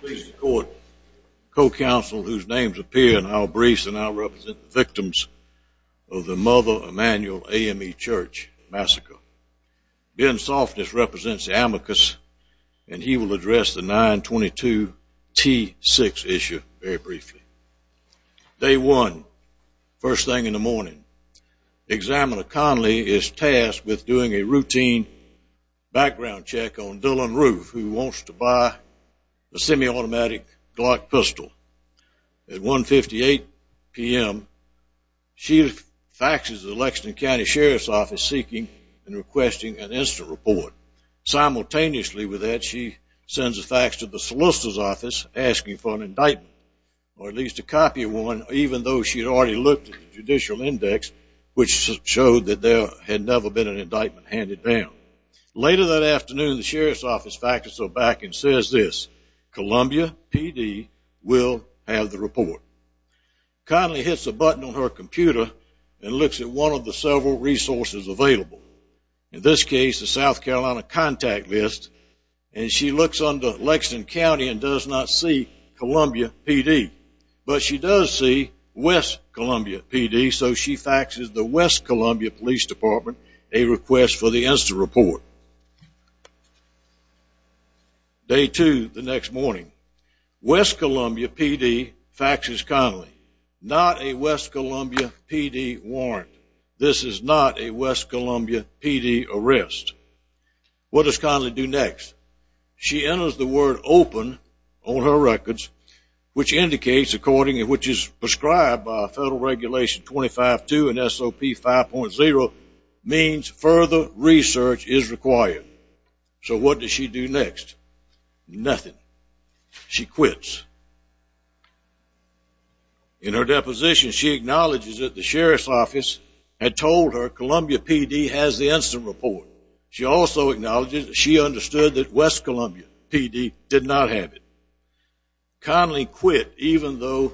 Please record co-counsel whose names appear in our briefs and I'll represent the victims of the Mother Emanuel AME Church Massacre. Ben Softness represents the amicus and he will address the 922 T6 issue very briefly. Day 1. First thing in the morning. Examiner Conley is tasked with doing a routine background check on Dylan Roof who wants to buy a semi-automatic Glock pistol. At 1.58 p.m. she faxes the Lexington County Sheriff's Office seeking and requesting an instant report. Simultaneously with that she sends a fax to the Solicitor's Office asking for an indictment or at least a copy of one, even though she had already looked at the judicial index which showed that there had never been an indictment handed down. Later that afternoon the Sheriff's Office faxes her back and says this, Columbia PD will have the report. Conley hits a button on her computer and looks at one of the several resources available. In this case the South Carolina contact list and she looks under Lexington County and does not see Columbia PD. But she does see West Columbia PD so she faxes the West Columbia Police Department a request for the instant report. Day 2. The next morning. West Columbia PD faxes Conley. Not a West Columbia PD warrant. This is not a West Columbia PD arrest. What does Conley do next? She enters the word open on her records which indicates according to which is prescribed by Federal Regulation 25-2 and SOP 5.0 means further research is required. So what does she do next? Nothing. She quits. In her deposition she acknowledges that the Sheriff's Office had told her Columbia PD has the instant report. She also acknowledges that she understood that West Columbia PD did not have it. Conley quit even though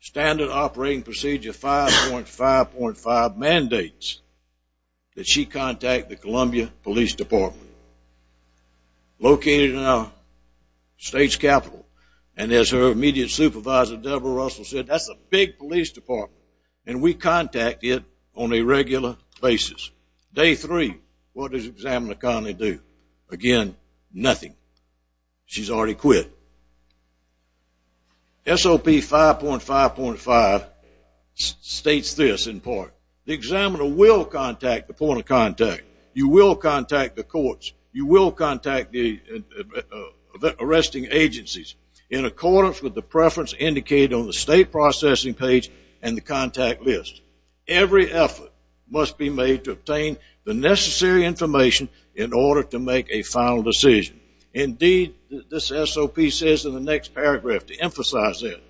standard operating procedure 5.5.5 mandates that she contact the Columbia Police Department. Located in our state's capital. And as her immediate supervisor Debra Russell said that's a big police department and we contact it on a regular basis. Day 3. What does Examiner Conley do? Again, nothing. She's already quit. SOP 5.5.5 states this in part. The examiner will contact the point of contact. You will contact the courts. You will contact the arresting agencies in accordance with the preference indicated on the state processing page and the contact list. Every effort must be made to obtain the necessary information in order to make a final decision. Indeed, this SOP says in the next paragraph to emphasize this.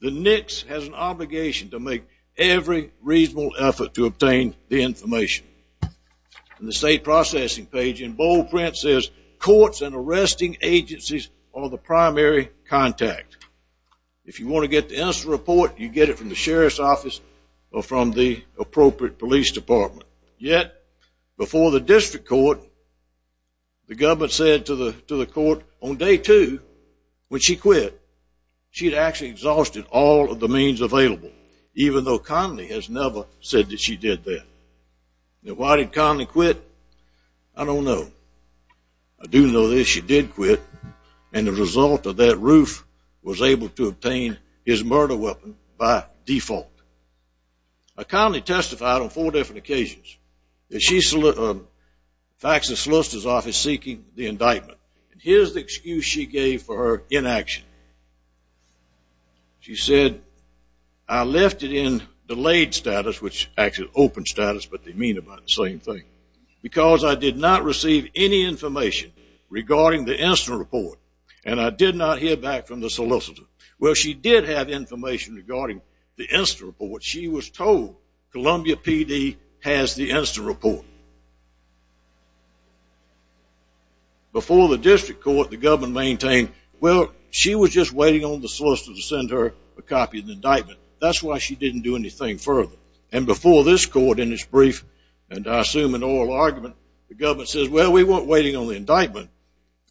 The NICS has an obligation to make every reasonable effort to obtain the information. The state processing page in bold print says courts and arresting agencies are the primary contact. If you want to get the instant report, you get it from the Sheriff's Office or from the appropriate police department. Yet, before the district court, the government said to the court on day 2 when she quit, she had actually exhausted all of the means available, even though Conley has never said that she did that. Now, why did Conley quit? I don't know. I do know that she did quit, and the result of that roof was able to obtain his murder weapon by default. Now, Conley testified on four different occasions. In fact, the solicitor's office seeking the indictment. Here's the excuse she gave for her inaction. She said, I left it in delayed status, which is actually open status, but they mean about the same thing, because I did not receive any information regarding the instant report, and I did not hear back from the solicitor. Well, she did have information regarding the instant report. She was told Columbia PD has the instant report. Before the district court, the government maintained, well, she was just waiting on the solicitor to send her a copy of the indictment. That's why she didn't do anything further, and before this court in its brief, and I assume an oral argument, the government says, well, we weren't waiting on the indictment.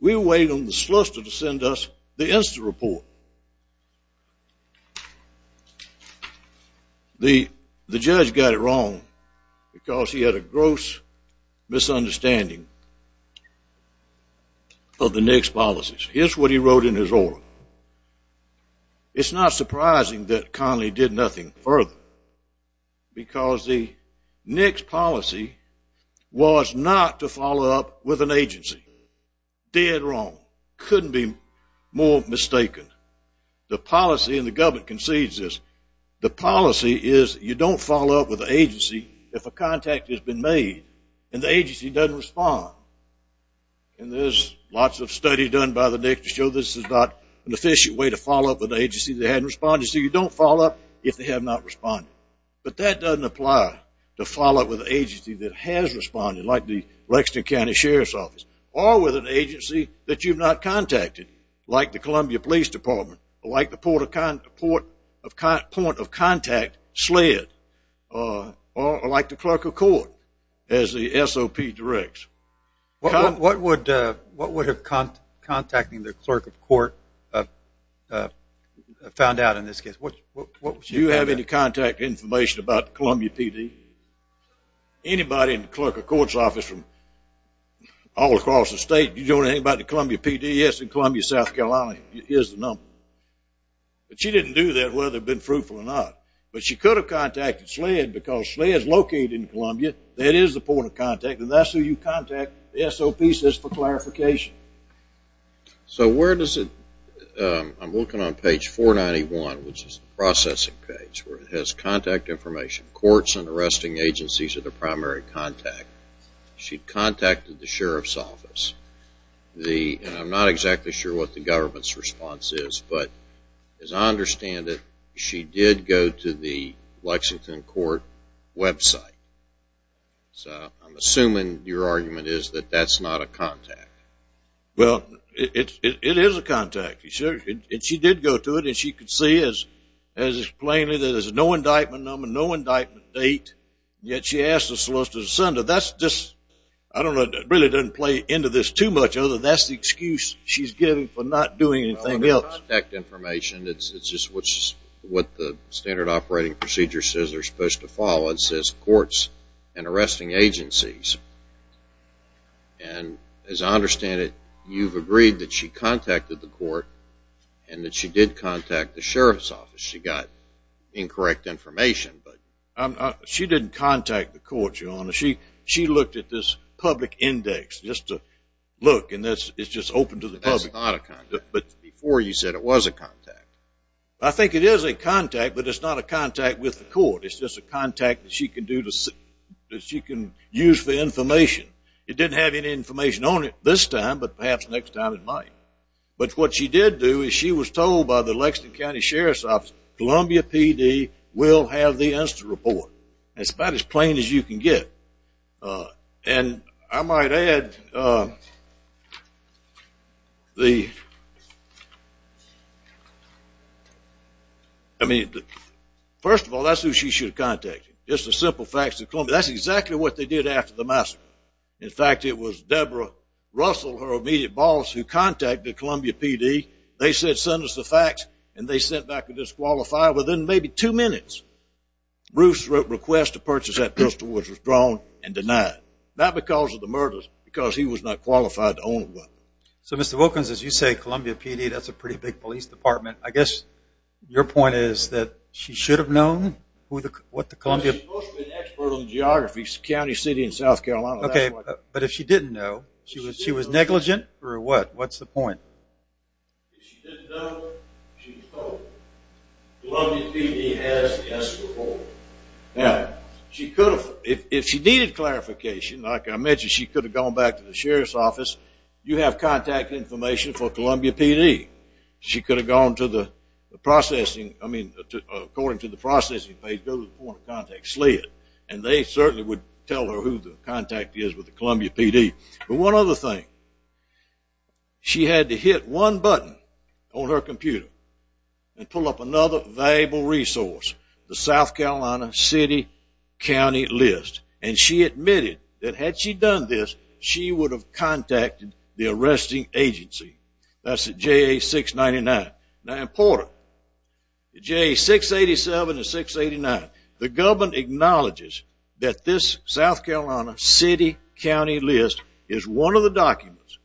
We were waiting on the solicitor to send us the instant report. The judge got it wrong because he had a gross misunderstanding of the NICS policies. Here's what he wrote in his oral. It's not surprising that Connolly did nothing further because the NICS policy was not to follow up with an agency. Dead wrong. Couldn't be more mistaken. The policy, and the government concedes this, the policy is you don't follow up with an agency if a contact has been made, and the agency doesn't respond. And there's lots of study done by the NICS to show this is not an efficient way to follow up with an agency that hasn't responded. So you don't follow up if they have not responded. But that doesn't apply to follow up with an agency that has responded, like the Lexington County Sheriff's Office, or with an agency that you've not contacted, like the Columbia Police Department, or like the point of contact SLED, or like the clerk of court, as the SOP directs. What would contacting the clerk of court have found out in this case? Do you have any contact information about the Columbia PD? Anybody in the clerk of court's office from all across the state, do you know anything about the Columbia PD? Yes, in Columbia, South Carolina is the number. But she didn't do that, whether it had been fruitful or not. But she could have contacted SLED because SLED is located in Columbia. That is the point of contact, and that's who you contact. The SOP says for clarification. So where does it, I'm looking on page 491, which is the processing page, where it has contact information, courts and arresting agencies are the primary contact. She contacted the sheriff's office. And I'm not exactly sure what the government's response is, but as I understand it, she did go to the Lexington court website. So I'm assuming your argument is that that's not a contact. Well, it is a contact. She did go to it, and she could see as plainly that there's no indictment number, no indictment date, yet she asked the solicitor to send it. That's just, I don't know, it really doesn't play into this too much, other than that's the excuse she's given for not doing anything else. It's not contact information. It's just what the standard operating procedure says they're supposed to follow. It says courts and arresting agencies. And as I understand it, you've agreed that she contacted the court and that she did contact the sheriff's office. She got incorrect information. She didn't contact the court, Your Honor. She looked at this public index just to look, and it's just open to the public. But before you said it was a contact. I think it is a contact, but it's not a contact with the court. It's just a contact that she can use for information. It didn't have any information on it this time, but perhaps next time it might. But what she did do is she was told by the Lexington County Sheriff's Office, Columbia PD will have the insta-report. It's about as plain as you can get. And I might add the, I mean, first of all, that's who she should have contacted. Just the simple facts of Columbia. That's exactly what they did after the massacre. In fact, it was Deborah Russell, her immediate boss, who contacted Columbia PD. They said send us the facts, and they sent back a disqualified within maybe two minutes. Bruce wrote a request to purchase that pistol, which was drawn and denied. Not because of the murders, because he was not qualified to own one. So, Mr. Wilkins, as you say, Columbia PD, that's a pretty big police department. I guess your point is that she should have known what the Columbia. Well, she's supposed to be an expert on geography, county, city, and South Carolina. Okay, but if she didn't know, she was negligent for what? What's the point? If she didn't know, she was told. Columbia PD has the insta-report. Now, she could have, if she needed clarification, like I mentioned, she could have gone back to the sheriff's office. You have contact information for Columbia PD. She could have gone to the processing, I mean, according to the processing page, go to the point of contact, SLID. And they certainly would tell her who the contact is with the Columbia PD. But one other thing, she had to hit one button on her computer and pull up another valuable resource, the South Carolina City County List. And she admitted that had she done this, she would have contacted the arresting agency. That's the JA-699. Now, important, the JA-687 and 689, the government acknowledges that this South Carolina City County List is one of the documents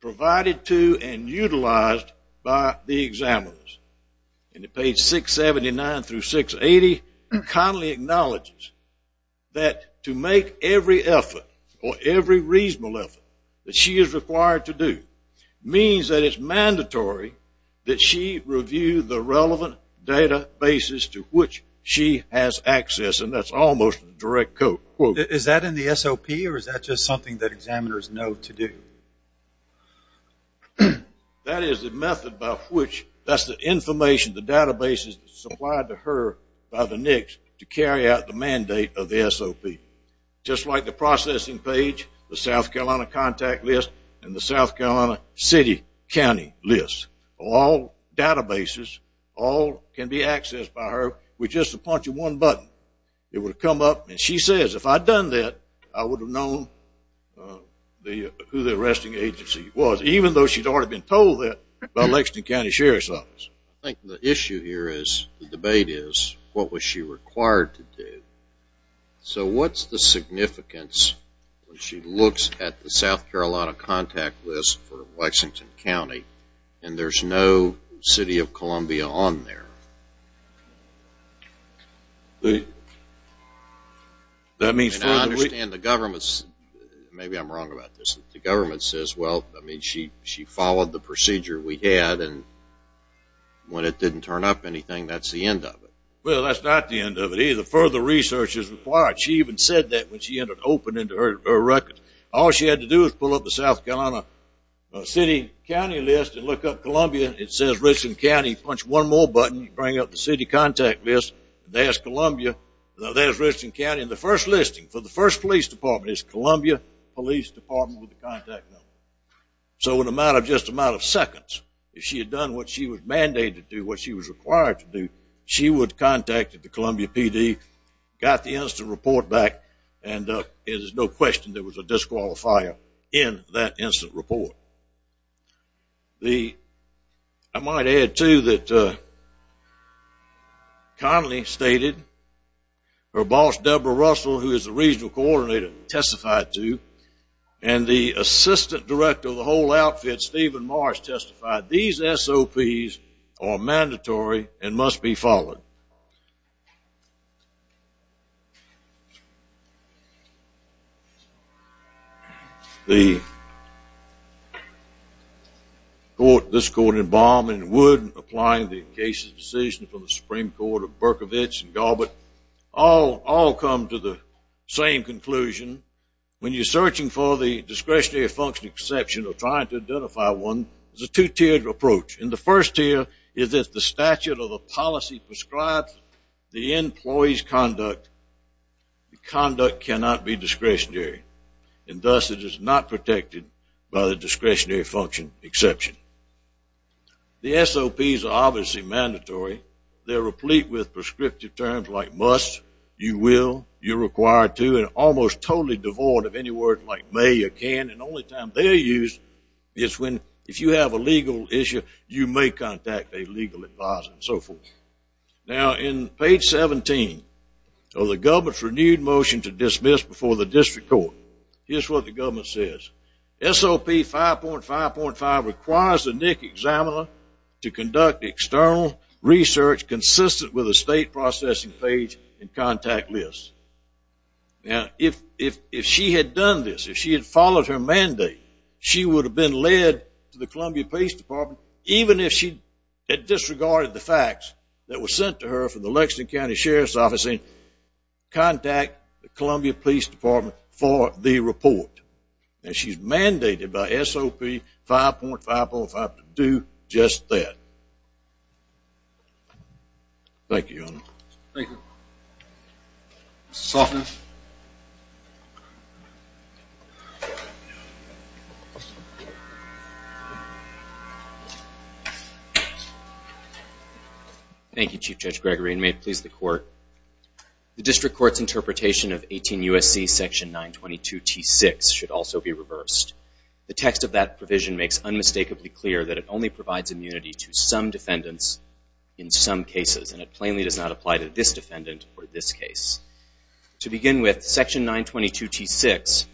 provided to and utilized by the examiners. And page 679 through 680 kindly acknowledges that to make every effort or every reasonable effort that she is required to do means that it's mandatory that she review the relevant databases to which she has access. And that's almost a direct quote. Is that in the SOP or is that just something that examiners know to do? That is the method by which, that's the information, the databases supplied to her by the NICS to carry out the mandate of the SOP. Just like the processing page, the South Carolina Contact List, and the South Carolina City County List. All databases, all can be accessed by her with just a punch of one button. It would come up and she says, if I'd done that, I would have known who the arresting agency was, even though she'd already been told that by the Lexington County Sheriff's Office. I think the issue here is, the debate is, what was she required to do? So what's the significance when she looks at the South Carolina Contact List for Lexington County and there's no City of Columbia on there? I understand the government, maybe I'm wrong about this, the government says, well, she followed the procedure we had and when it didn't turn up anything, that's the end of it. Well, that's not the end of it either. Further research is required. She even said that when she opened her records. All she had to do was pull up the South Carolina City County List and look up Columbia. It says Richland County. Punch one more button to bring up the City Contact List. There's Columbia. There's Richland County. And the first listing for the first police department is Columbia Police Department with the contact number. So in a matter of just a matter of seconds, if she had done what she was mandated to do, what she was required to do, she would have contacted the Columbia PD, got the instant report back, and there's no question there was a disqualifier in that instant report. I might add, too, that Connelly stated her boss, Deborah Russell, who is the regional coordinator, testified, too, and the assistant director of the whole outfit, Stephen Marsh, testified, these SOPs are mandatory and must be followed. The court, this court in Baum and Wood, applying the case's decision from the Supreme Court of Berkovich and Galbert, all come to the same conclusion. When you're searching for the discretionary function exception or trying to identify one, it's a two-tiered approach. And the first tier is if the statute or the policy prescribes the employee's conduct, the conduct cannot be discretionary. And thus it is not protected by the discretionary function exception. The SOPs are obviously mandatory. They're replete with prescriptive terms like must, you will, you're required to, and almost totally devoid of any words like may or can. And the only time they're used is when, if you have a legal issue, you may contact a legal advisor and so forth. Now, in page 17 of the government's renewed motion to dismiss before the district court, here's what the government says. SOP 5.5.5 requires the NIC examiner to conduct external research consistent with a state processing page and contact list. Now, if she had done this, if she had followed her mandate, she would have been led to the Columbia Police Department, even if she had disregarded the facts that were sent to her from the Lexington County Sheriff's Office, and contact the Columbia Police Department for the report. And she's mandated by SOP 5.5.5 to do just that. Thank you, Your Honor. Thank you. Mr. Soffman. Thank you, Chief Judge Gregory, and may it please the court. The district court's interpretation of 18 U.S.C. section 922 T6 should also be reversed. The text of that provision makes unmistakably clear that it only provides immunity to some defendants in some cases, and it plainly does not apply to this defendant or this case. To begin with, section 922 T6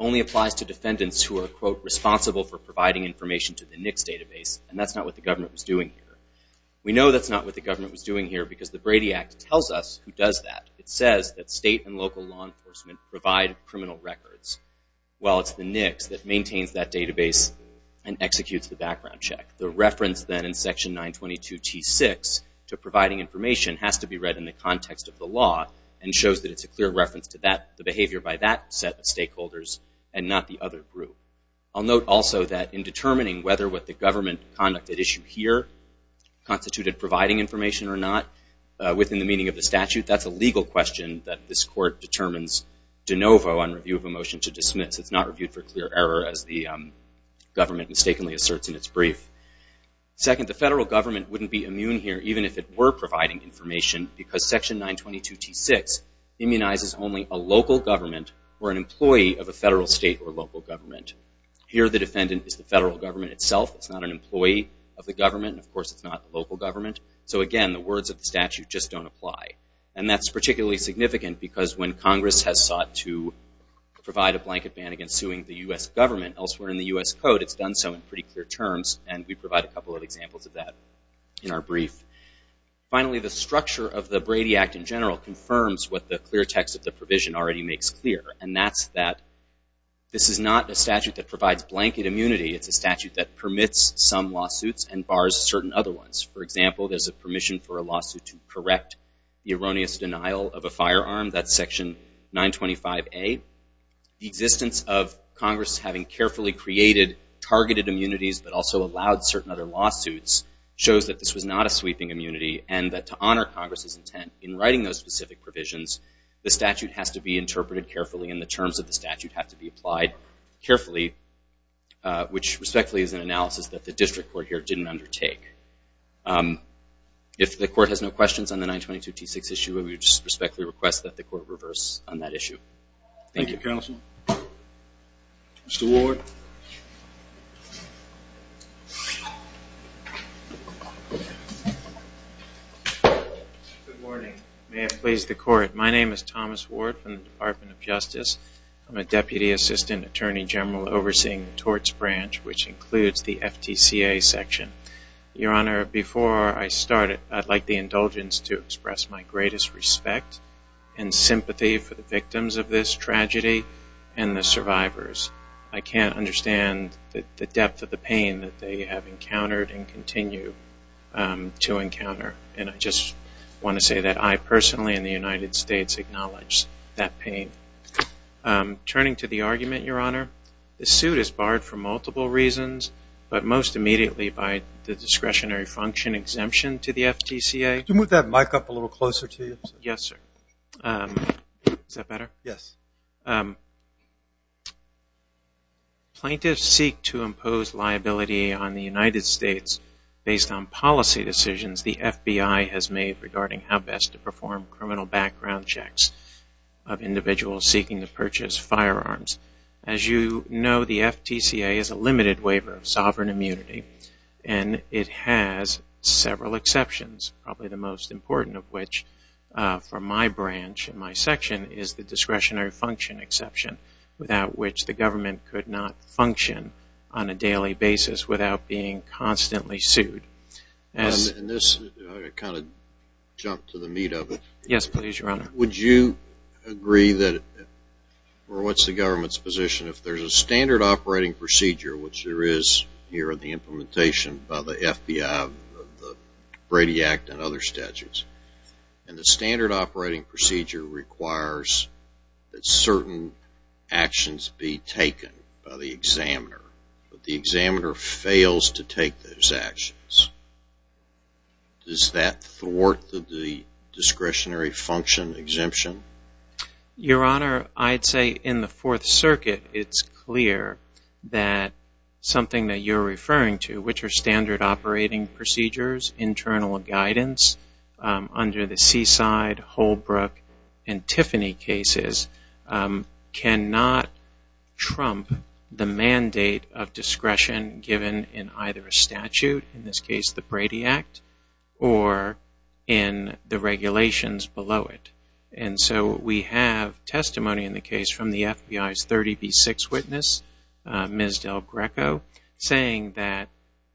only applies to defendants who are, quote, responsible for providing information to the NICS database, and that's not what the government was doing here. We know that's not what the government was doing here because the Brady Act tells us who does that. It says that state and local law enforcement provide criminal records. Well, it's the NICS that maintains that database and executes the background check. The reference, then, in section 922 T6 to providing information has to be read in the context of the law and shows that it's a clear reference to the behavior by that set of stakeholders and not the other group. I'll note also that in determining whether what the government conducted at issue here constituted providing information or not, within the meaning of the statute, that's a legal question that this court determines de novo on review of a motion to dismiss. It's not reviewed for clear error, as the government mistakenly asserts in its brief. Second, the federal government wouldn't be immune here, even if it were providing information, because section 922 T6 immunizes only a local government or an employee of a federal, state, or local government. Here the defendant is the federal government itself. It's not an employee of the government, and of course it's not the local government. So again, the words of the statute just don't apply. And that's particularly significant because when Congress has sought to provide a blanket ban against suing the U.S. government, elsewhere in the U.S. Code, it's done so in pretty clear terms, and we provide a couple of examples of that in our brief. Finally, the structure of the Brady Act in general confirms what the clear text of the provision already makes clear, and that's that this is not a statute that provides blanket immunity. It's a statute that permits some lawsuits and bars certain other ones. For example, there's a permission for a lawsuit to correct the erroneous denial of a firearm. That's section 925A. The existence of Congress having carefully created targeted immunities, but also allowed certain other lawsuits, shows that this was not a sweeping immunity, and that to honor Congress's intent in writing those specific provisions, the statute has to be interpreted carefully and the terms of the statute have to be applied carefully, which respectfully is an analysis that the district court here didn't undertake. If the court has no questions on the 922 T6 issue, we respectfully request that the court reverse on that issue. Thank you. Thank you, counsel. Mr. Ward. Good morning. May it please the court, my name is Thomas Ward from the Department of Justice. I'm a deputy assistant attorney general overseeing the torts branch, which includes the FTCA section. Your Honor, before I start, I'd like the indulgence to express my greatest respect and sympathy for the victims of this tragedy and the survivors. I can't understand the depth of the pain that they have encountered and continue to encounter, and I just want to say that I personally in the United States acknowledge that pain. Turning to the argument, Your Honor, the suit is barred for multiple reasons, but most immediately by the discretionary function exemption to the FTCA. Could you move that mic up a little closer to you? Yes, sir. Is that better? Yes. Plaintiffs seek to impose liability on the United States based on policy decisions the FBI has made regarding how best to perform criminal background checks of individuals seeking to purchase firearms. As you know, the FTCA is a limited waiver of sovereign immunity, and it has several exceptions, probably the most important of which for my branch and my section is the discretionary function exception, without which the government could not function on a daily basis without being constantly sued. I'm going to kind of jump to the meat of it. Yes, please, Your Honor. Would you agree that, or what's the government's position, if there's a standard operating procedure, which there is here in the implementation by the FBI, the Brady Act, and other statutes, and the standard operating procedure requires that certain actions be taken by the examiner, but the examiner fails to take those actions, does that thwart the discretionary function exemption? Your Honor, I'd say in the Fourth Circuit it's clear that something that you're referring to, which are standard operating procedures, internal guidance under the Seaside, Holbrook, and Tiffany cases, cannot trump the mandate of discretion given in either a statute, in this case the Brady Act, or in the regulations below it. And so we have testimony in the case from the FBI's 30B6 witness, Ms. Del Greco, saying that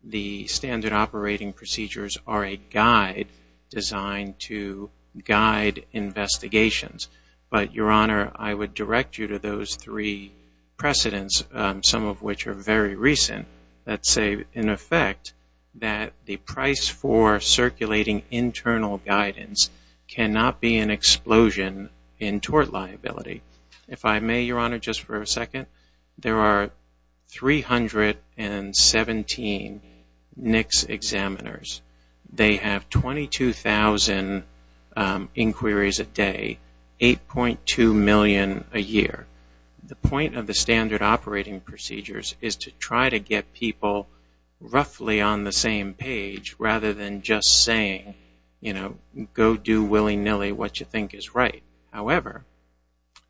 the standard operating procedures are a guide designed to guide investigations. But, Your Honor, I would direct you to those three precedents, some of which are very recent, that say, in effect, that the price for circulating internal guidance cannot be an explosion in tort liability. If I may, Your Honor, just for a second, there are 317 NICS examiners. They have 22,000 inquiries a day, 8.2 million a year. The point of the standard operating procedures is to try to get people roughly on the same page, rather than just saying, you know, go do willy-nilly what you think is right. However,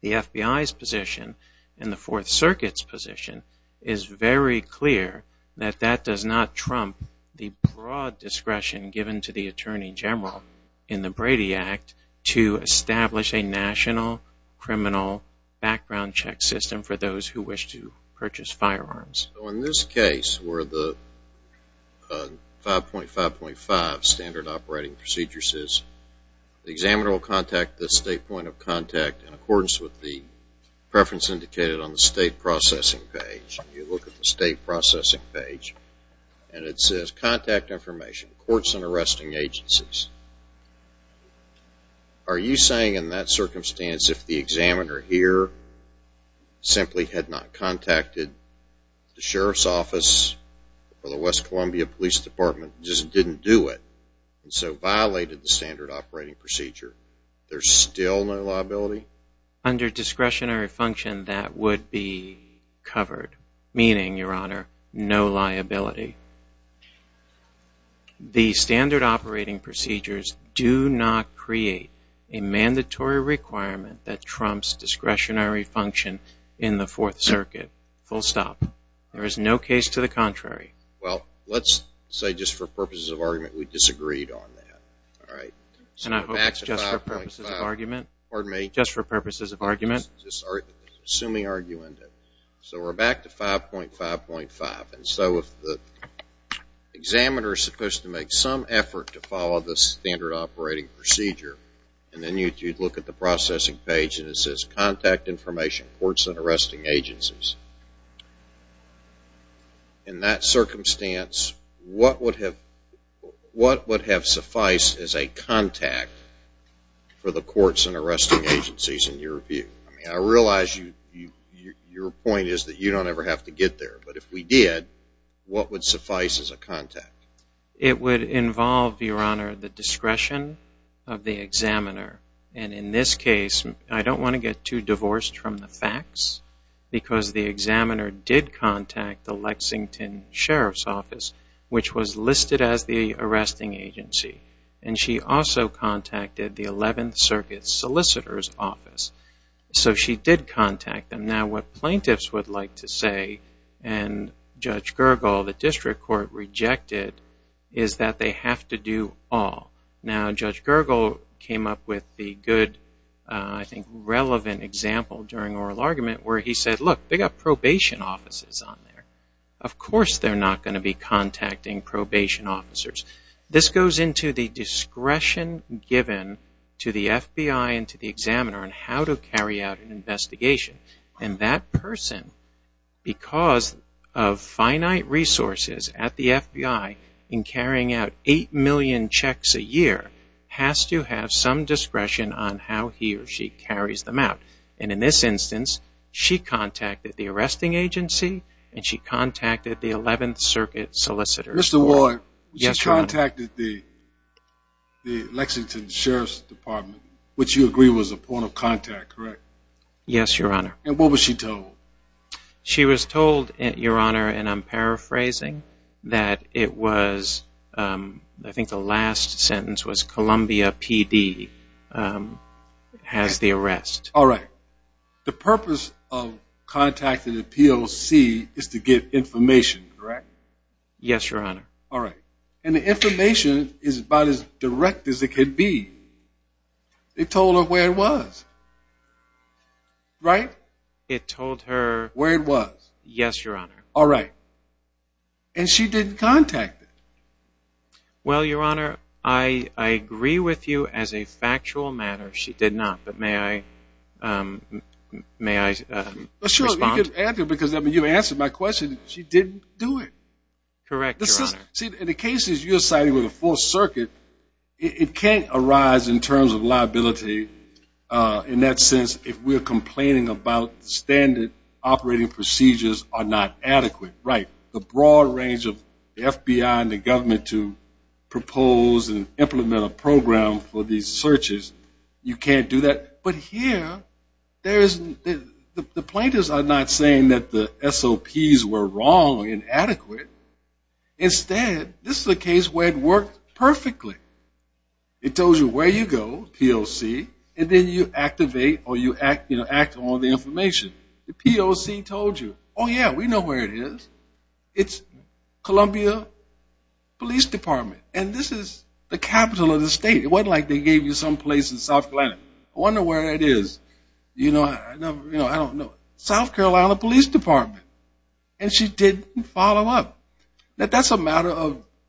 the FBI's position and the Fourth Circuit's position is very clear that that does not trump the broad discretion given to the Attorney General in the Brady Act to establish a national criminal background check system for those who wish to purchase firearms. In this case, where the 5.5.5 standard operating procedure says, the examiner will contact the state point of contact in accordance with the preference indicated on the state processing page. You look at the state processing page, and it says, contact information, courts and arresting agencies. Are you saying in that circumstance, if the examiner here simply had not contacted the Sheriff's Office or the West Columbia Police Department, just didn't do it, and so violated the standard operating procedure, there's still no liability? Under discretionary function, that would be covered. Meaning, Your Honor, no liability. The standard operating procedures do not create a mandatory requirement that trumps discretionary function in the Fourth Circuit. Full stop. There is no case to the contrary. Well, let's say just for purposes of argument, we disagreed on that. Just for purposes of argument. Assuming argument. So, we're back to 5.5.5. So, if the examiner is supposed to make some effort to follow the standard operating procedure, and then you look at the processing page, and it says, contact information, courts and arresting agencies. In that circumstance, what would have sufficed as a contact for the courts and arresting agencies, in your view? I realize your point is that you don't ever have to get there. But if we did, what would suffice as a contact? It would involve, Your Honor, the discretion of the examiner. And in this case, I don't want to get too divorced from the facts, because the examiner did contact the Lexington Sheriff's Office, which was listed as the arresting agency. And she also contacted the Eleventh Circuit Solicitor's Office. So, she did contact them. Now, what plaintiffs would like to say, and Judge Gergel, the District Court, rejected, is that they have to do all. Now, Judge Gergel came up with the good, I think, relevant example during oral argument, where he said, look, they've got probation officers on there. Of course they're not going to be contacting probation officers. This goes into the discretion given to the FBI and to the examiner on how to carry out an investigation. And that person, because of finite resources at the FBI in carrying out 8 million checks a year, has to have some discretion on how he or she carries them out. And in this instance, she contacted the arresting agency, and she contacted the Eleventh Circuit Solicitor's Office. Mr. Ward, she contacted the Lexington Sheriff's Department, which you agree was a point of contact, correct? Yes, Your Honor. And what was she told? She was told, Your Honor, and I'm paraphrasing, that it was, I think the last sentence was, Columbia PD has the arrest. All right. The purpose of contacting the POC is to get information, correct? Yes, Your Honor. All right. And the information is about as direct as it can be. It told her where it was, right? It told her... Where it was. Yes, Your Honor. All right. And she didn't contact it. Well, Your Honor, I agree with you as a factual matter, she did not. But may I respond? Because you answered my question, she didn't do it. Correct, Your Honor. See, in the cases you're citing with the Fourth Circuit, it can't arise in terms of liability in that sense if we're complaining about standard operating procedures are not adequate. Right. The broad range of FBI and the government to propose and implement a program for these searches, you can't do that. But here, the plaintiffs are not saying that the SOPs were wrong and inadequate. Instead, this is a case where it worked perfectly. It told you where you go, POC, and then you activate or you act on the information. The POC told you, oh, yeah, we know where it is. It's Columbia Police Department, and this is the capital of the state. It wasn't like they gave you someplace in South Carolina. I wonder where it is. You know, I don't know. South Carolina Police Department. And she didn't follow up. Now, that's a matter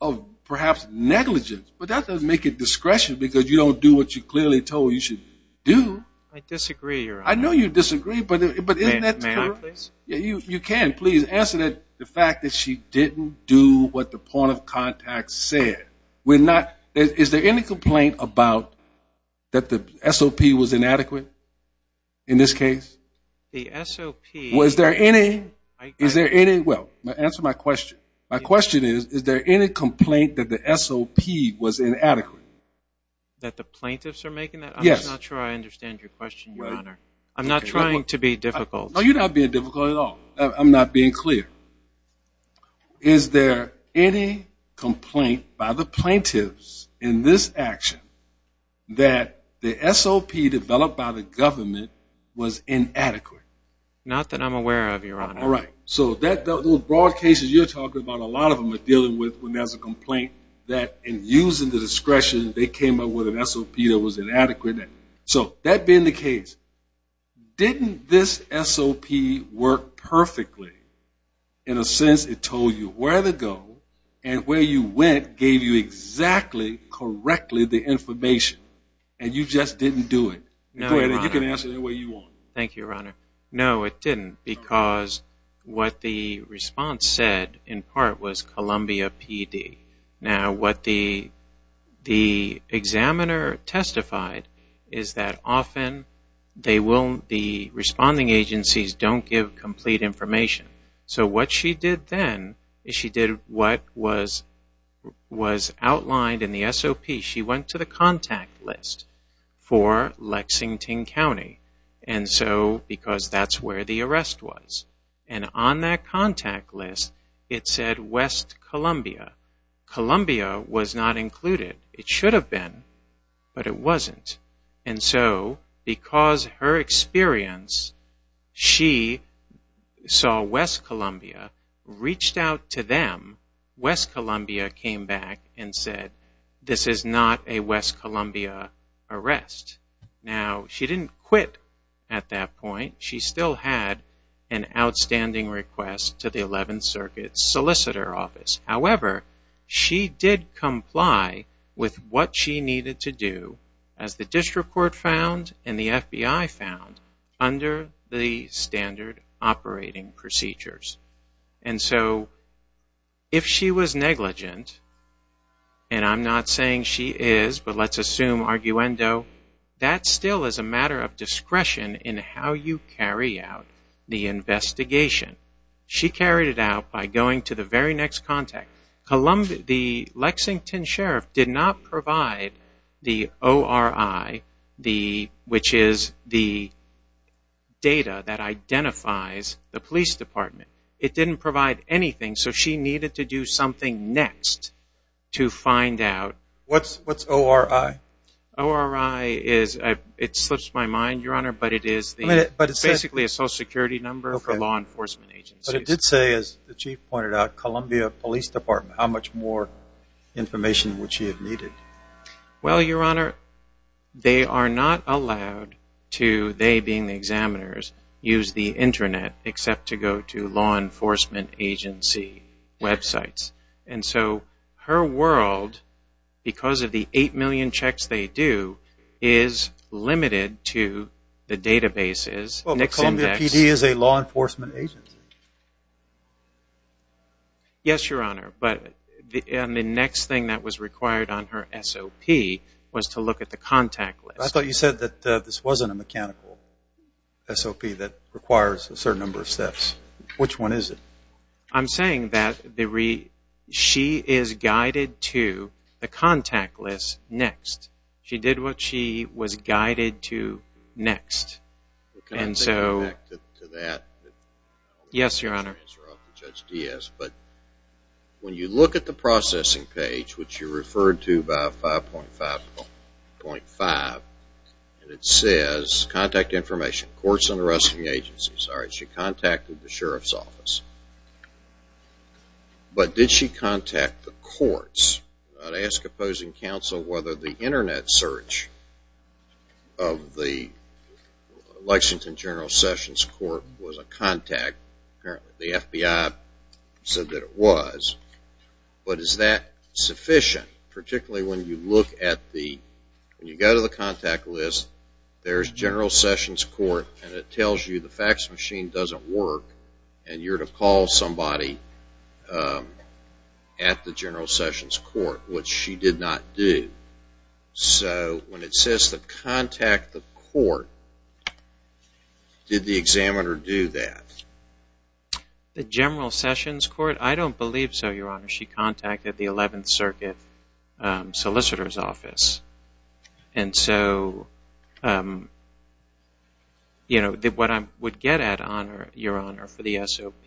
of perhaps negligence, but that doesn't make it discretion, because you don't do what you clearly told you should do. I disagree, Your Honor. I know you disagree, but isn't that true? May I, please? You can. Please answer the fact that she didn't do what the point of contact said. Is there any complaint about that the SOP was inadequate in this case? The SOP. Is there any? Well, answer my question. My question is, is there any complaint that the SOP was inadequate? That the plaintiffs are making that? Yes. I'm not sure I understand your question, Your Honor. I'm not trying to be difficult. No, you're not being difficult at all. I'm not being clear. Is there any complaint by the plaintiffs in this action that the SOP developed by the government was inadequate? Not that I'm aware of, Your Honor. All right. So those broad cases you're talking about, a lot of them are dealing with when there's a complaint that in using the discretion they came up with an SOP that was inadequate. So that being the case, didn't this SOP work perfectly in a sense it told you where to go and where you went gave you exactly, correctly the information, and you just didn't do it? No, Your Honor. You can answer it any way you want. Thank you, Your Honor. No, it didn't because what the response said in part was Columbia PD. Now what the examiner testified is that often the responding agencies don't give complete information. So what she did then is she did what was outlined in the SOP. She went to the contact list for Lexington County because that's where the arrest was. And on that contact list it said West Columbia. Columbia was not included. It should have been, but it wasn't. And so because her experience, she saw West Columbia, reached out to them, West Columbia came back and said this is not a West Columbia arrest. Now she didn't quit at that point. She still had an outstanding request to the 11th Circuit Solicitor Office. However, she did comply with what she needed to do as the District Court found and the FBI found under the standard operating procedures. And so if she was negligent, and I'm not saying she is, but let's assume arguendo, that still is a matter of discretion in how you carry out the investigation. She carried it out by going to the very next contact. The Lexington Sheriff did not provide the ORI, which is the data that identifies the police department. It didn't provide anything, so she needed to do something next to find out. What's ORI? ORI is, it slips my mind, Your Honor, but it is basically a social security number for law enforcement agencies. But it did say, as the Chief pointed out, Columbia Police Department. How much more information would she have needed? Well, Your Honor, they are not allowed to, they being the examiners, use the Internet except to go to law enforcement agency websites. And so her world, because of the 8 million checks they do, is limited to the databases. Well, but Columbia PD is a law enforcement agency. Yes, Your Honor, but the next thing that was required on her SOP was to look at the contact list. I thought you said that this wasn't a mechanical SOP that requires a certain number of steps. Which one is it? I'm saying that she is guided to the contact list next. She did what she was guided to next. Can I go back to that? Yes, Your Honor. But when you look at the processing page, which you referred to by 5.5, and it says contact information, Courts and Arresting Agencies, all right, she contacted the Sheriff's Office. But did she contact the courts? I'd ask opposing counsel whether the Internet search of the Lexington General Sessions Court was a contact. Apparently the FBI said that it was. But is that sufficient, particularly when you go to the contact list, there's General Sessions Court, and it tells you the fax machine doesn't work and you're to call somebody at the General Sessions Court, which she did not do. So when it says to contact the court, did the examiner do that? The General Sessions Court? I don't believe so, Your Honor. And so what I would get at, Your Honor, for the SOP,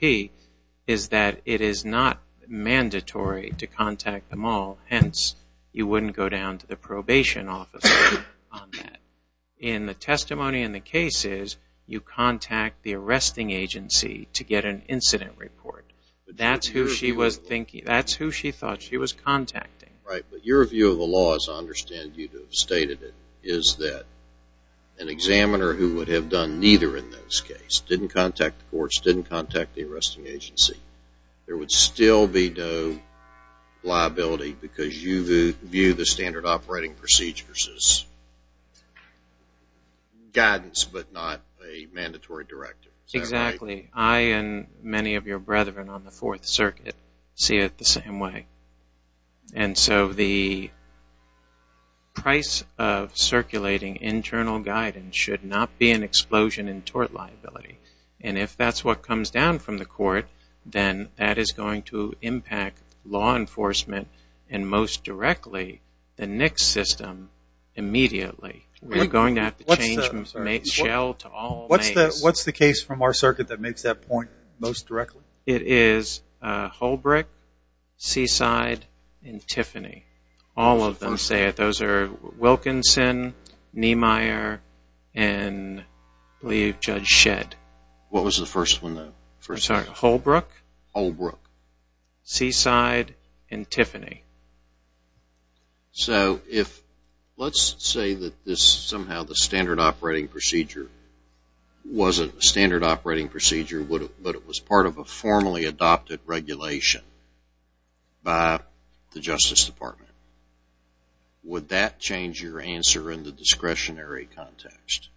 is that it is not mandatory to contact them all. Hence, you wouldn't go down to the probation office on that. In the testimony in the cases, you contact the arresting agency to get an incident report. That's who she thought she was contacting. Right, but your view of the law, as I understand you to have stated it, is that an examiner who would have done neither in those cases, didn't contact the courts, didn't contact the arresting agency, there would still be no liability because you view the standard operating procedures as guidance but not a mandatory directive. Exactly. I and many of your brethren on the Fourth Circuit see it the same way. And so the price of circulating internal guidance should not be an explosion in tort liability. And if that's what comes down from the court, then that is going to impact law enforcement and most directly the NICS system immediately. We're going to have to change from shell to all NICS. What's the case from our circuit that makes that point most directly? It is Holbrook, Seaside, and Tiffany. All of them say it. Those are Wilkinson, Niemeyer, and I believe Judge Shedd. What was the first one? Holbrook, Seaside, and Tiffany. So let's say that somehow the standard operating procedure wasn't a standard operating procedure but it was part of a formally adopted regulation by the Justice Department. Would that change your answer in the discretionary context?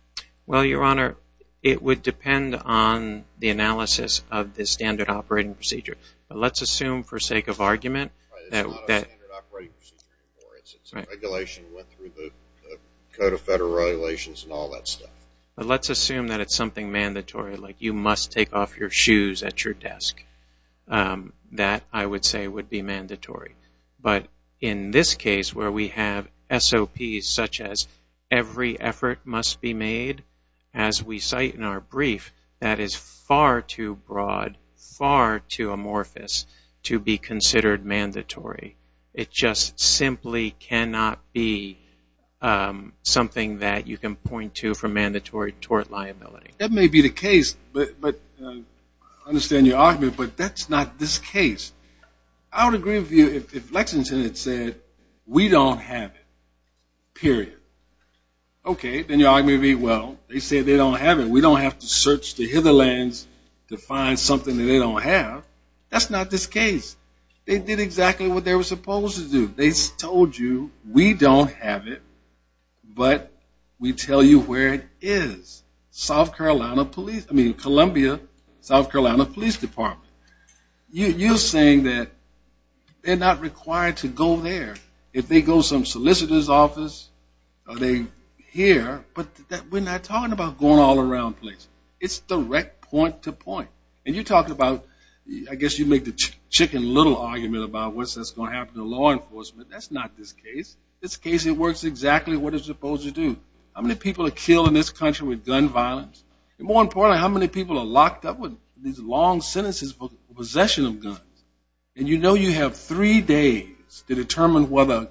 Well, Your Honor, it would depend on the analysis of the standard operating procedure. But let's assume for sake of argument that... It's not a standard operating procedure anymore. It's a regulation that went through the Code of Federal Regulations and all that stuff. But let's assume that it's something mandatory like you must take off your shoes at your desk. That, I would say, would be mandatory. But in this case where we have SOPs such as every effort must be made, as we cite in our brief, that is far too broad, far too amorphous to be considered mandatory. It just simply cannot be something that you can point to for mandatory tort liability. That may be the case, but I understand your argument, but that's not this case. I would agree with you if Lexington had said, we don't have it, period. Okay, then your argument would be, well, they said they don't have it. We don't have to search the hither lands to find something that they don't have. That's not this case. They did exactly what they were supposed to do. They told you, we don't have it, but we tell you where it is. South Carolina Police, I mean Columbia, South Carolina Police Department. You're saying that they're not required to go there. If they go to some solicitor's office, are they here? But we're not talking about going all around places. It's direct point to point. And you're talking about, I guess you make the chicken little argument about what's going to happen to law enforcement. That's not this case. This case, it works exactly what it's supposed to do. How many people are killed in this country with gun violence? And more importantly, how many people are locked up with these long sentences for possession of guns? And you know you have three days to determine whether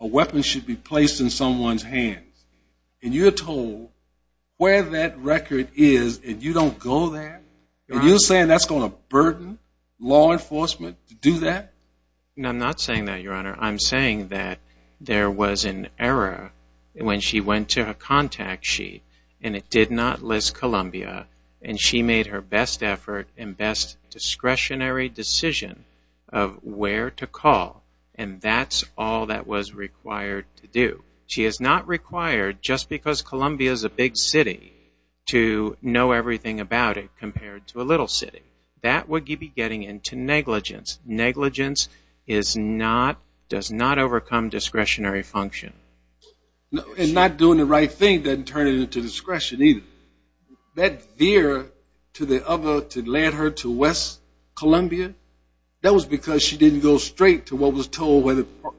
a weapon should be placed in someone's hands. And you're told where that record is, and you don't go there? And you're saying that's going to burden law enforcement to do that? No, I'm not saying that, Your Honor. I'm saying that there was an error when she went to her contact sheet and it did not list Columbia, and she made her best effort and best discretionary decision of where to call, and that's all that was required to do. She is not required, just because Columbia is a big city, to know everything about it compared to a little city. That would be getting into negligence. Negligence does not overcome discretionary function. And not doing the right thing doesn't turn it into discretion either. That veer to the other, to land her to West Columbia, that was because she didn't go straight to what was told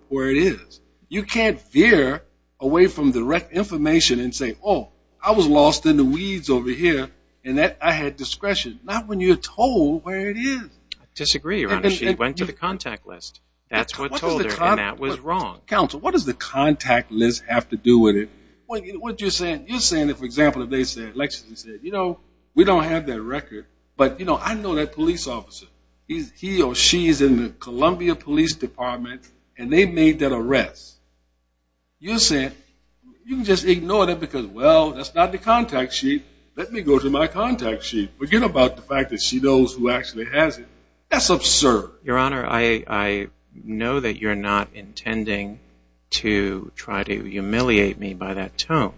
where it is. You can't veer away from direct information and say, oh, I was lost in the weeds over here, and I had discretion. Not when you're told where it is. I disagree, Your Honor. She went to the contact list. That's what told her, and that was wrong. Counsel, what does the contact list have to do with it? You're saying that, for example, if they said, like she said, you know, we don't have that record, but, you know, I know that police officer. He or she is in the Columbia Police Department, and they made that arrest. You're saying you can just ignore that because, well, that's not the contact sheet. Let me go to my contact sheet. Forget about the fact that she knows who actually has it. That's absurd. Your Honor, I know that you're not intending to try to humiliate me by that tone.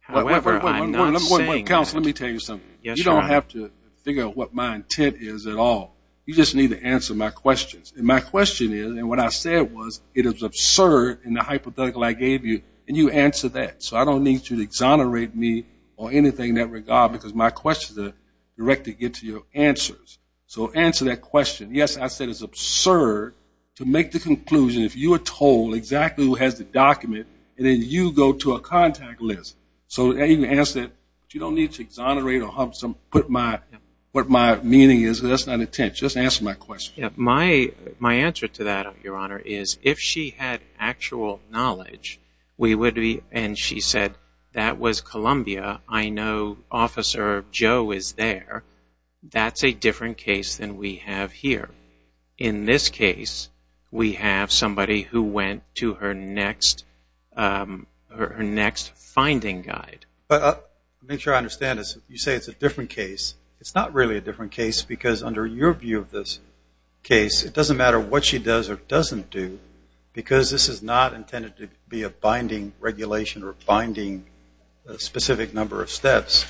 However, I'm not saying that. Counsel, let me tell you something. You don't have to figure out what my intent is at all. You just need to answer my questions, and my question is, and what I said was it is absurd in the hypothetical I gave you, and you answered that. So I don't need you to exonerate me or anything in that regard because my questions are directed to your answers. So answer that question. Yes, I said it's absurd to make the conclusion, if you are told, exactly who has the document, and then you go to a contact list. So answer that. You don't need to exonerate or put what my meaning is. That's not intent. Just answer my question. My answer to that, Your Honor, is if she had actual knowledge, we would be, and she said that was Columbia. I know Officer Joe is there. That's a different case than we have here. In this case, we have somebody who went to her next finding guide. To make sure I understand this, you say it's a different case. It's not really a different case because under your view of this case, it doesn't matter what she does or doesn't do because this is not intended to be a binding regulation or binding specific number of steps.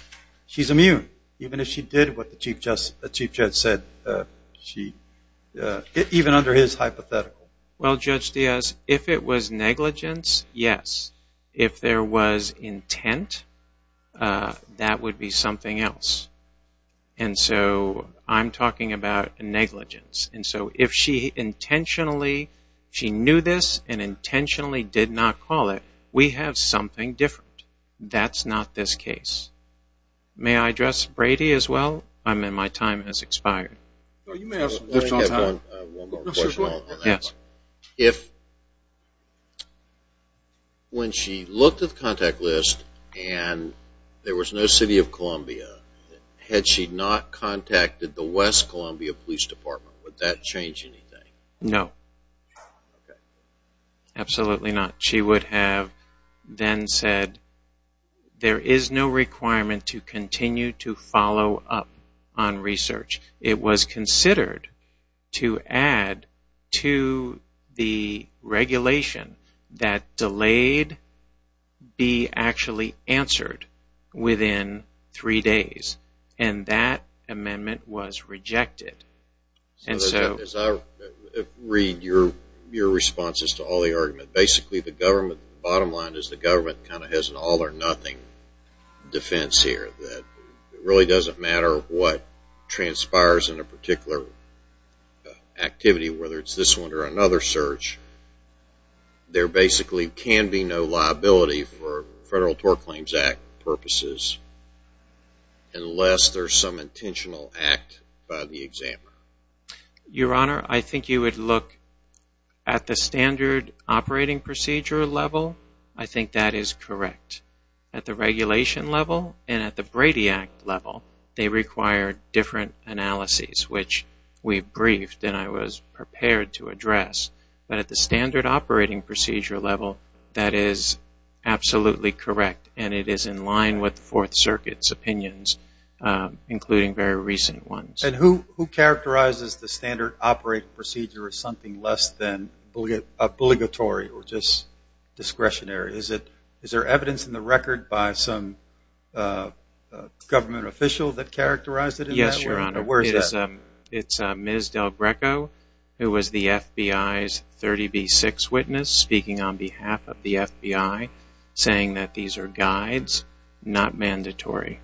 She's immune, even if she did what the Chief Judge said, even under his hypothetical. Well, Judge Diaz, if it was negligence, yes. If there was intent, that would be something else. And so I'm talking about negligence. And so if she intentionally knew this and intentionally did not call it, we have something different. That's not this case. May I address Brady as well? My time has expired. No, you may ask him. I have one more question on that. Yes. If when she looked at the contact list and there was no city of Columbia, had she not contacted the West Columbia Police Department, would that change anything? No. Okay. Absolutely not. She would have then said there is no requirement to continue to follow up on research. It was considered to add to the regulation that delayed be actually answered within three days. And that amendment was rejected. As I read your responses to all the arguments, basically the bottom line is the government kind of has an all or nothing defense here. It really doesn't matter what transpires in a particular activity, whether it's this one or another search. There basically can be no liability for Federal Tort Claims Act purposes unless there is some intentional act by the examiner. Your Honor, I think you would look at the standard operating procedure level. I think that is correct. At the regulation level and at the Brady Act level, they require different analyses, which we briefed and I was prepared to address. But at the standard operating procedure level, that is absolutely correct. And it is in line with the Fourth Circuit's opinions, including very recent ones. And who characterizes the standard operating procedure as something less than obligatory or just discretionary? Is there evidence in the record by some government official that characterized it in that way? Yes, Your Honor. Where is that? It's Ms. Delbreco, who was the FBI's 30B6 witness, speaking on behalf of the FBI, saying that these are guides, not mandatory.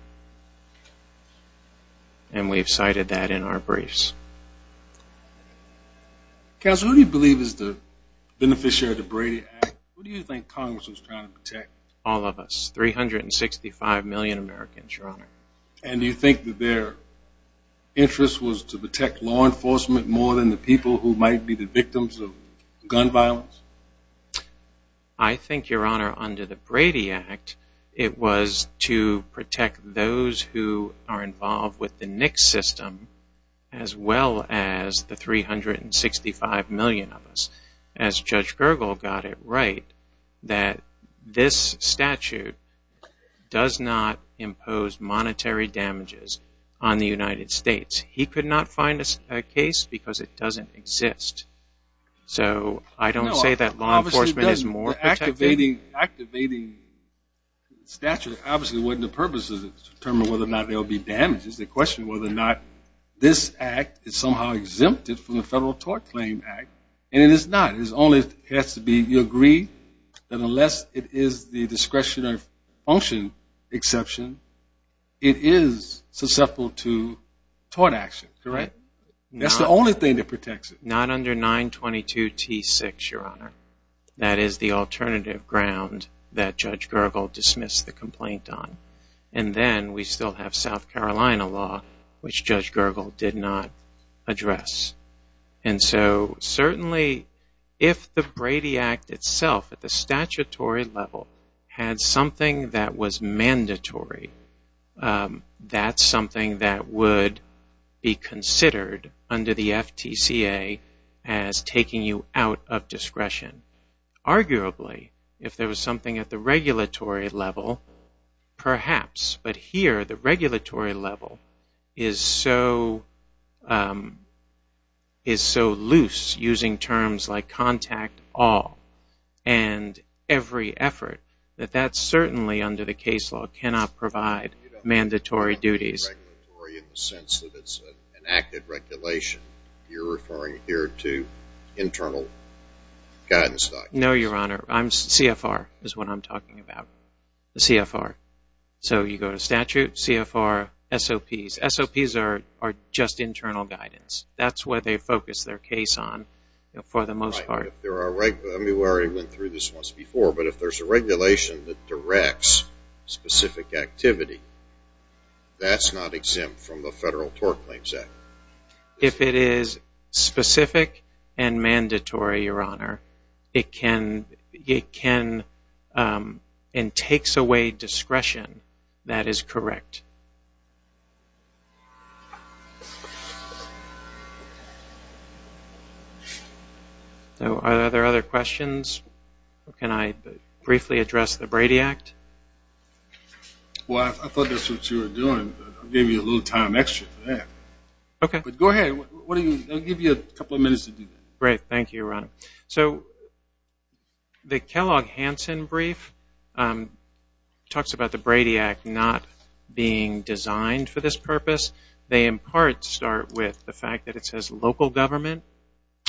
And we've cited that in our briefs. Counsel, who do you believe is the beneficiary of the Brady Act? Who do you think Congress was trying to protect? All of us, 365 million Americans, Your Honor. And do you think that their interest was to protect law enforcement more than the people who might be the victims of gun violence? I think, Your Honor, under the Brady Act, it was to protect those who are involved with the NICS system as well as the 365 million of us. As Judge Gergel got it right, that this statute does not impose monetary damages on the United States. He could not find a case because it doesn't exist. So I don't say that law enforcement is more protective. The activating statute obviously wasn't the purpose of it, to determine whether or not there will be damages. It's a question of whether or not this act is somehow exempted from the Federal Tort Claim Act. And it is not. It only has to be, you agree, that unless it is the discretionary function exception, it is susceptible to tort action, correct? That's the only thing that protects it. Not under 922 T6, Your Honor. That is the alternative ground that Judge Gergel dismissed the complaint on. And then we still have South Carolina law, which Judge Gergel did not address. And so, certainly, if the Brady Act itself, at the statutory level, had something that was mandatory, that's something that would be considered, under the FTCA, as taking you out of discretion. Arguably, if there was something at the regulatory level, perhaps. But here, the regulatory level is so loose, using terms like contact all, and every effort, that that certainly, under the case law, cannot provide mandatory duties. You don't refer to it as regulatory in the sense that it's an active regulation. You're referring here to internal guidance documents. No, Your Honor. CFR is what I'm talking about. The CFR. So you go to statute, CFR, SOPs. SOPs are just internal guidance. That's what they focus their case on, for the most part. I mean, we already went through this once before. But if there's a regulation that directs specific activity, that's not exempt from the Federal Tort Claims Act. If it is specific and mandatory, Your Honor, it can and takes away discretion, that is correct. Are there other questions? Can I briefly address the Brady Act? Well, I thought that's what you were doing. I gave you a little time extra for that. Okay. But go ahead. I'll give you a couple of minutes to do that. Great. Thank you, Your Honor. So the Kellogg-Hanson brief talks about the Brady Act not being designed for this purpose. They, in part, start with the fact that it says local government,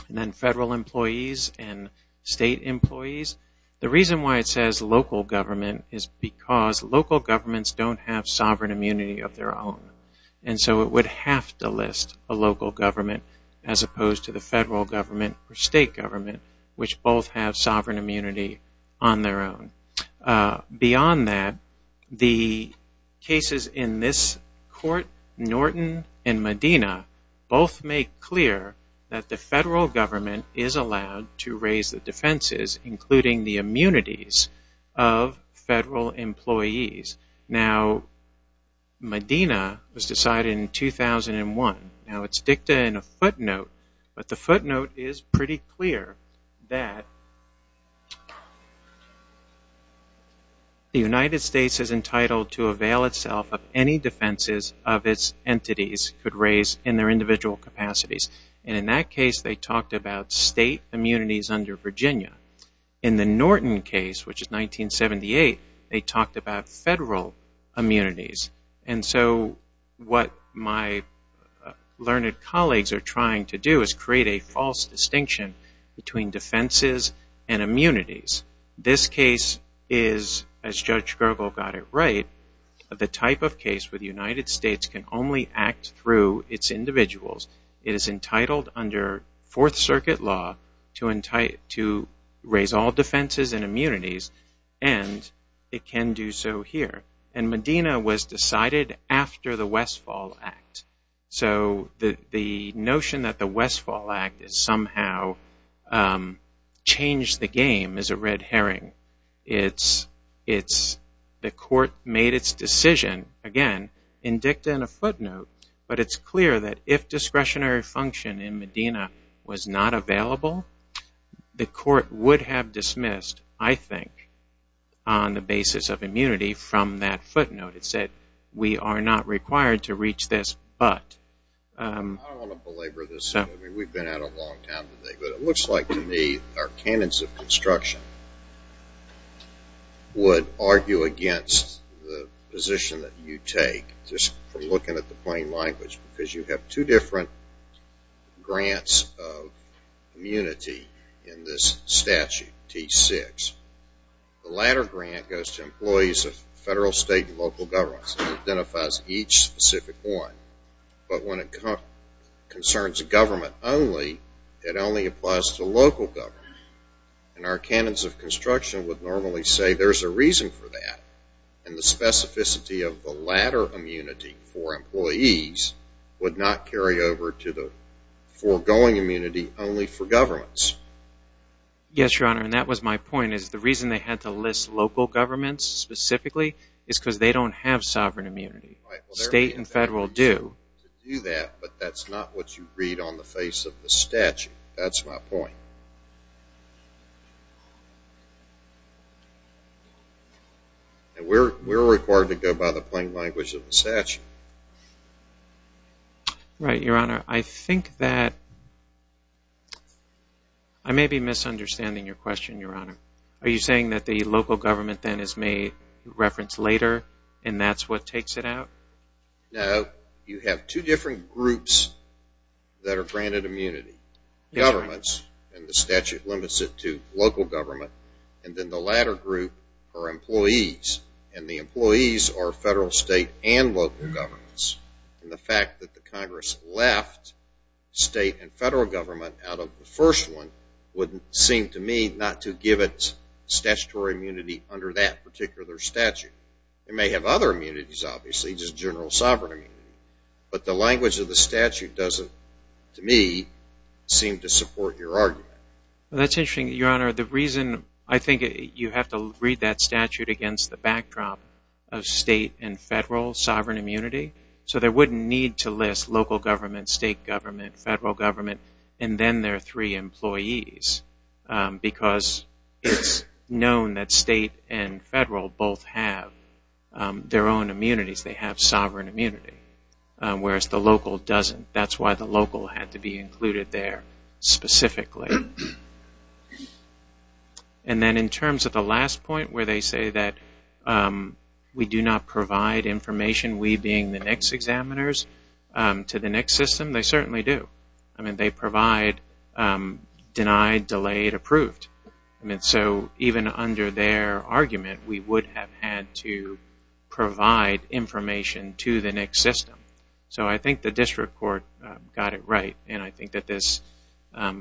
and then federal employees, and state employees. The reason why it says local government is because local governments don't have sovereign immunity of their own. And so it would have to list a local government, as opposed to the federal government or state government, which both have sovereign immunity on their own. Beyond that, the cases in this court, Norton and Medina, both make clear that the federal government is allowed to raise the defenses, including the immunities of federal employees. Now, Medina was decided in 2001. Now, it's dicta in a footnote. But the footnote is pretty clear that the United States is entitled to avail itself of any defenses of its entities it could raise in their individual capacities. And in that case, they talked about state immunities under Virginia. In the Norton case, which is 1978, they talked about federal immunities. And so what my learned colleagues are trying to do is create a false distinction between defenses and immunities. This case is, as Judge Gergel got it right, the type of case where the United States can only act through its individuals. It is entitled under Fourth Circuit law to raise all defenses and immunities, and it can do so here. And Medina was decided after the Westfall Act. So the notion that the Westfall Act has somehow changed the game is a red herring. The court made its decision, again, in dicta in a footnote. But it's clear that if discretionary function in Medina was not available, the court would have dismissed, I think, on the basis of immunity from that footnote. It said we are not required to reach this but. I don't want to belabor this. We've been at it a long time today. But it looks like to me our canons of construction would argue against the position that you take just from looking at the plain language, because you have two different grants of immunity in this statute, T6. The latter grant goes to employees of federal, state, and local governments and identifies each specific one. But when it concerns government only, it only applies to local government. And our canons of construction would normally say there's a reason for that. And the specificity of the latter immunity for employees would not carry over to the foregoing immunity only for governments. Yes, Your Honor, and that was my point. The reason they had to list local governments specifically is because they don't have sovereign immunity. State and federal do. But that's not what you read on the face of the statute. That's my point. We're required to go by the plain language of the statute. Right, Your Honor. I think that I may be misunderstanding your question, Your Honor. Are you saying that the local government then is made reference later and that's what takes it out? No. You have two different groups that are granted immunity. Governments, and the statute limits it to local government, and then the latter group are employees, and the employees are federal, state, and local governments. And the fact that the Congress left state and federal government out of the first one would seem to me not to give it statutory immunity under that particular statute. It may have other immunities, obviously, just general sovereign immunity. But the language of the statute doesn't, to me, seem to support your argument. Well, that's interesting, Your Honor. The reason I think you have to read that statute against the backdrop of state and federal sovereign immunity, so there wouldn't need to list local government, state government, federal government, and then their three employees, because it's known that state and federal both have their own immunities. They have sovereign immunity, whereas the local doesn't. That's why the local had to be included there specifically. And then in terms of the last point where they say that we do not provide information, we being the NICS examiners, to the NICS system, they certainly do. I mean, they provide denied, delayed, approved. So even under their argument, we would have had to provide information to the NICS system. So I think the district court got it right, and I think that this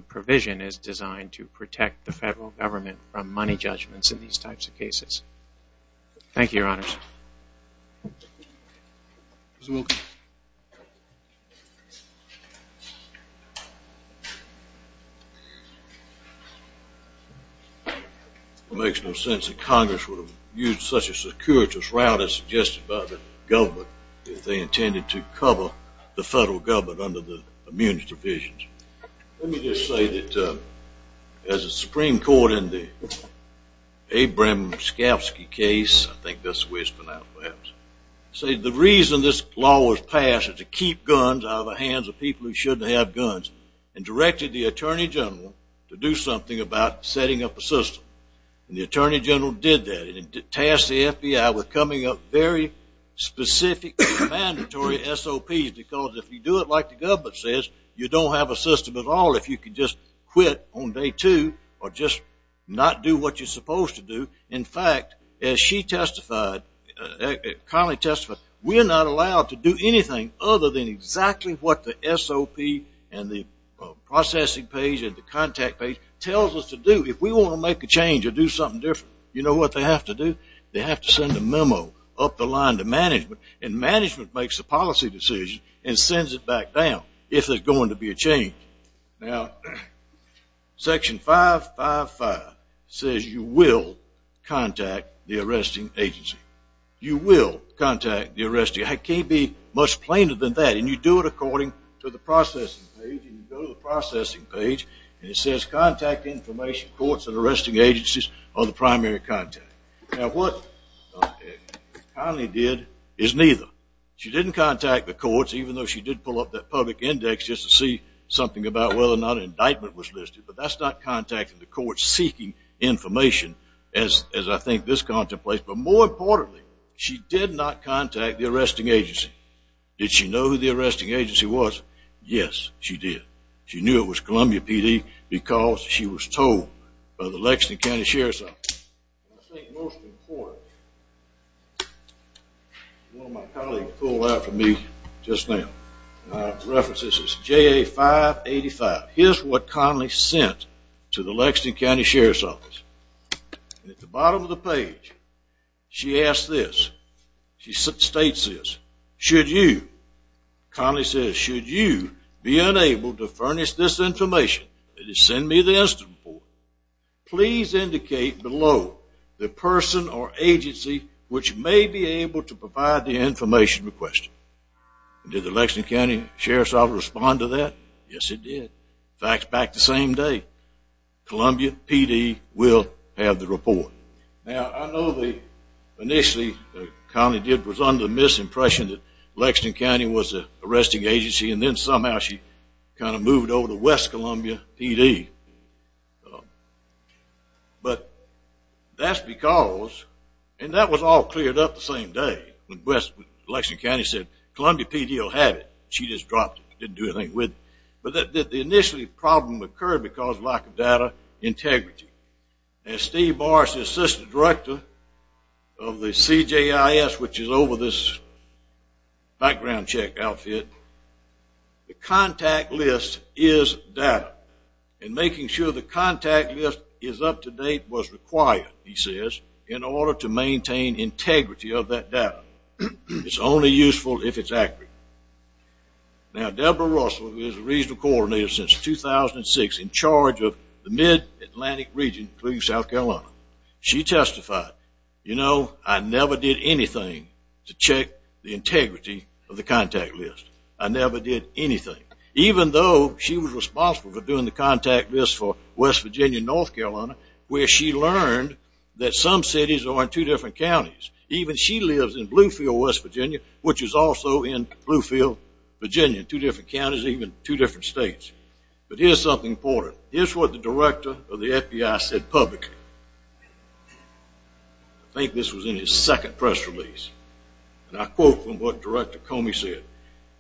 provision is designed to protect the federal government from money judgments in these types of cases. Thank you, Your Honors. Mr. Wilkins. It makes no sense that Congress would have used such a securitous route as suggested by the government if they intended to cover the federal government under the immunities provisions. Let me just say that as a Supreme Court in the Abrams-Scafsky case, I think that's the way it's pronounced perhaps, say the reason this law was passed is to keep guns out of the hands of people who shouldn't have guns and directed the Attorney General to do something about setting up a system. And the Attorney General did that. She tasked the FBI with coming up with very specific mandatory SOPs because if you do it like the government says, you don't have a system at all if you can just quit on day two or just not do what you're supposed to do. In fact, as she testified, Connelly testified, we are not allowed to do anything other than exactly what the SOP and the processing page and the contact page tells us to do. If we want to make a change or do something different, you know what they have to do? They have to send a memo up the line to management and management makes a policy decision and sends it back down if there's going to be a change. Now, Section 555 says you will contact the arresting agency. You will contact the arresting agency. It can't be much plainer than that and you do it according to the processing page and you go to the processing page and it says, contact information, courts and arresting agencies are the primary contact. Now, what Connelly did is neither. She didn't contact the courts even though she did pull up that public index just to see something about whether or not an indictment was listed, but that's not contacting the courts seeking information as I think this contemplates, but more importantly, she did not contact the arresting agency. Did she know who the arresting agency was? Yes, she did. She knew it was Columbia PD because she was told by the Lexington County Sheriff's Office. I think most important, one of my colleagues pulled out for me just now, references to JA 585. Here's what Connelly sent to the Lexington County Sheriff's Office. At the bottom of the page, she asks this. She states this. Should you, Connelly says, should you be unable to furnish this information, send me the instant report, please indicate below the person or agency which may be able to provide the information requested. Did the Lexington County Sheriff's Office respond to that? Yes, it did. In fact, back the same day, Columbia PD will have the report. Now, I know initially Connelly was under the misimpression that Lexington County was the arresting agency, and then somehow she kind of moved over to West Columbia PD. But that's because, and that was all cleared up the same day, when Lexington County said Columbia PD will have it. She just dropped it, didn't do anything with it. But the initial problem occurred because of lack of data integrity. Now, Steve Morris, the assistant director of the CJIS, which is over this background check outfit, the contact list is data. And making sure the contact list is up to date was required, he says, in order to maintain integrity of that data. It's only useful if it's accurate. Now, Deborah Russell, who is the regional coordinator since 2006 in charge of the mid-Atlantic region, including South Carolina, she testified, you know, I never did anything to check the integrity of the contact list. I never did anything. Even though she was responsible for doing the contact list for West Virginia and North Carolina, where she learned that some cities are in two different counties. Even she lives in Bluefield, West Virginia, which is also in Bluefield, Virginia, two different counties, even two different states. But here's something important. Here's what the director of the FBI said publicly. I think this was in his second press release. And I quote from what Director Comey said.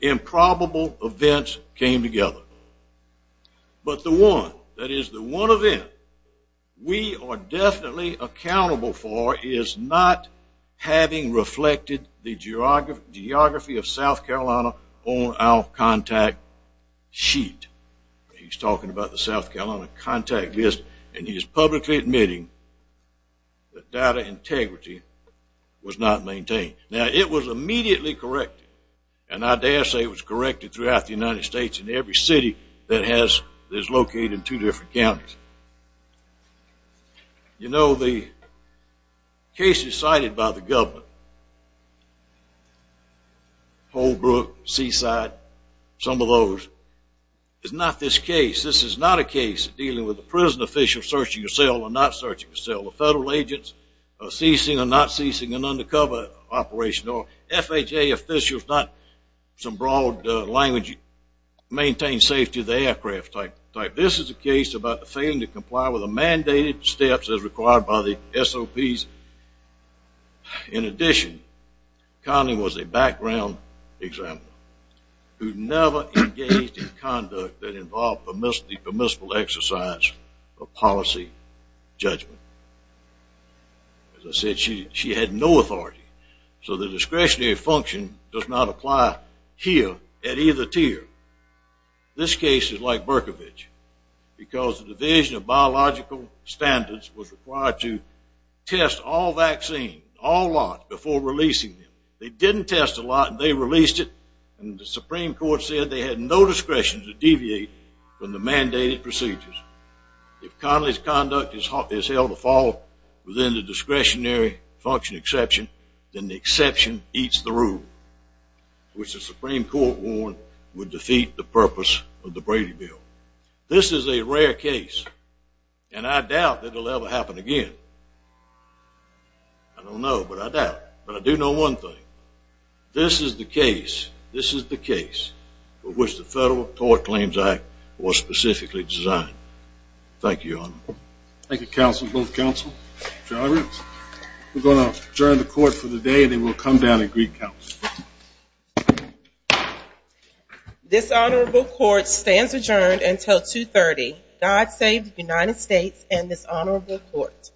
Improbable events came together. But the one, that is the one event, we are definitely accountable for is not having reflected the geography of South Carolina on our contact sheet. He's talking about the South Carolina contact list. And he is publicly admitting that data integrity was not maintained. Now, it was immediately corrected. And I dare say it was corrected throughout the United States in every city that is located in two different counties. You know, the cases cited by the government, Holbrook, Seaside, some of those, is not this case. This is not a case dealing with a prison official searching a cell or not searching a cell, a federal agent ceasing or not ceasing an undercover operation, or FHA officials, not some broad language, maintain safety of the aircraft type. This is a case about failing to comply with the mandated steps as required by the SOPs. In addition, Connelly was a background example who never engaged in conduct that involved permissible exercise or policy judgment. As I said, she had no authority. So the discretionary function does not apply here at either tier. This case is like Berkovich because the Division of Biological Standards was required to test all vaccines, all lots, before releasing them. They didn't test a lot, and they released it, and the Supreme Court said they had no discretion to deviate from the mandated procedures. If Connelly's conduct is held to fall within the discretionary function exception, then the exception eats the rule, which the Supreme Court warned would defeat the purpose of the Brady Bill. This is a rare case, and I doubt that it will ever happen again. I don't know, but I doubt. But I do know one thing. This is the case. This is the case for which the Federal Tort Claims Act was specifically designed. Thank you, Your Honor. Thank you, counsel, both counsel. We're going to adjourn the court for the day, and then we'll come down and greet counsel. This honorable court stands adjourned until 2.30. God save the United States and this honorable court.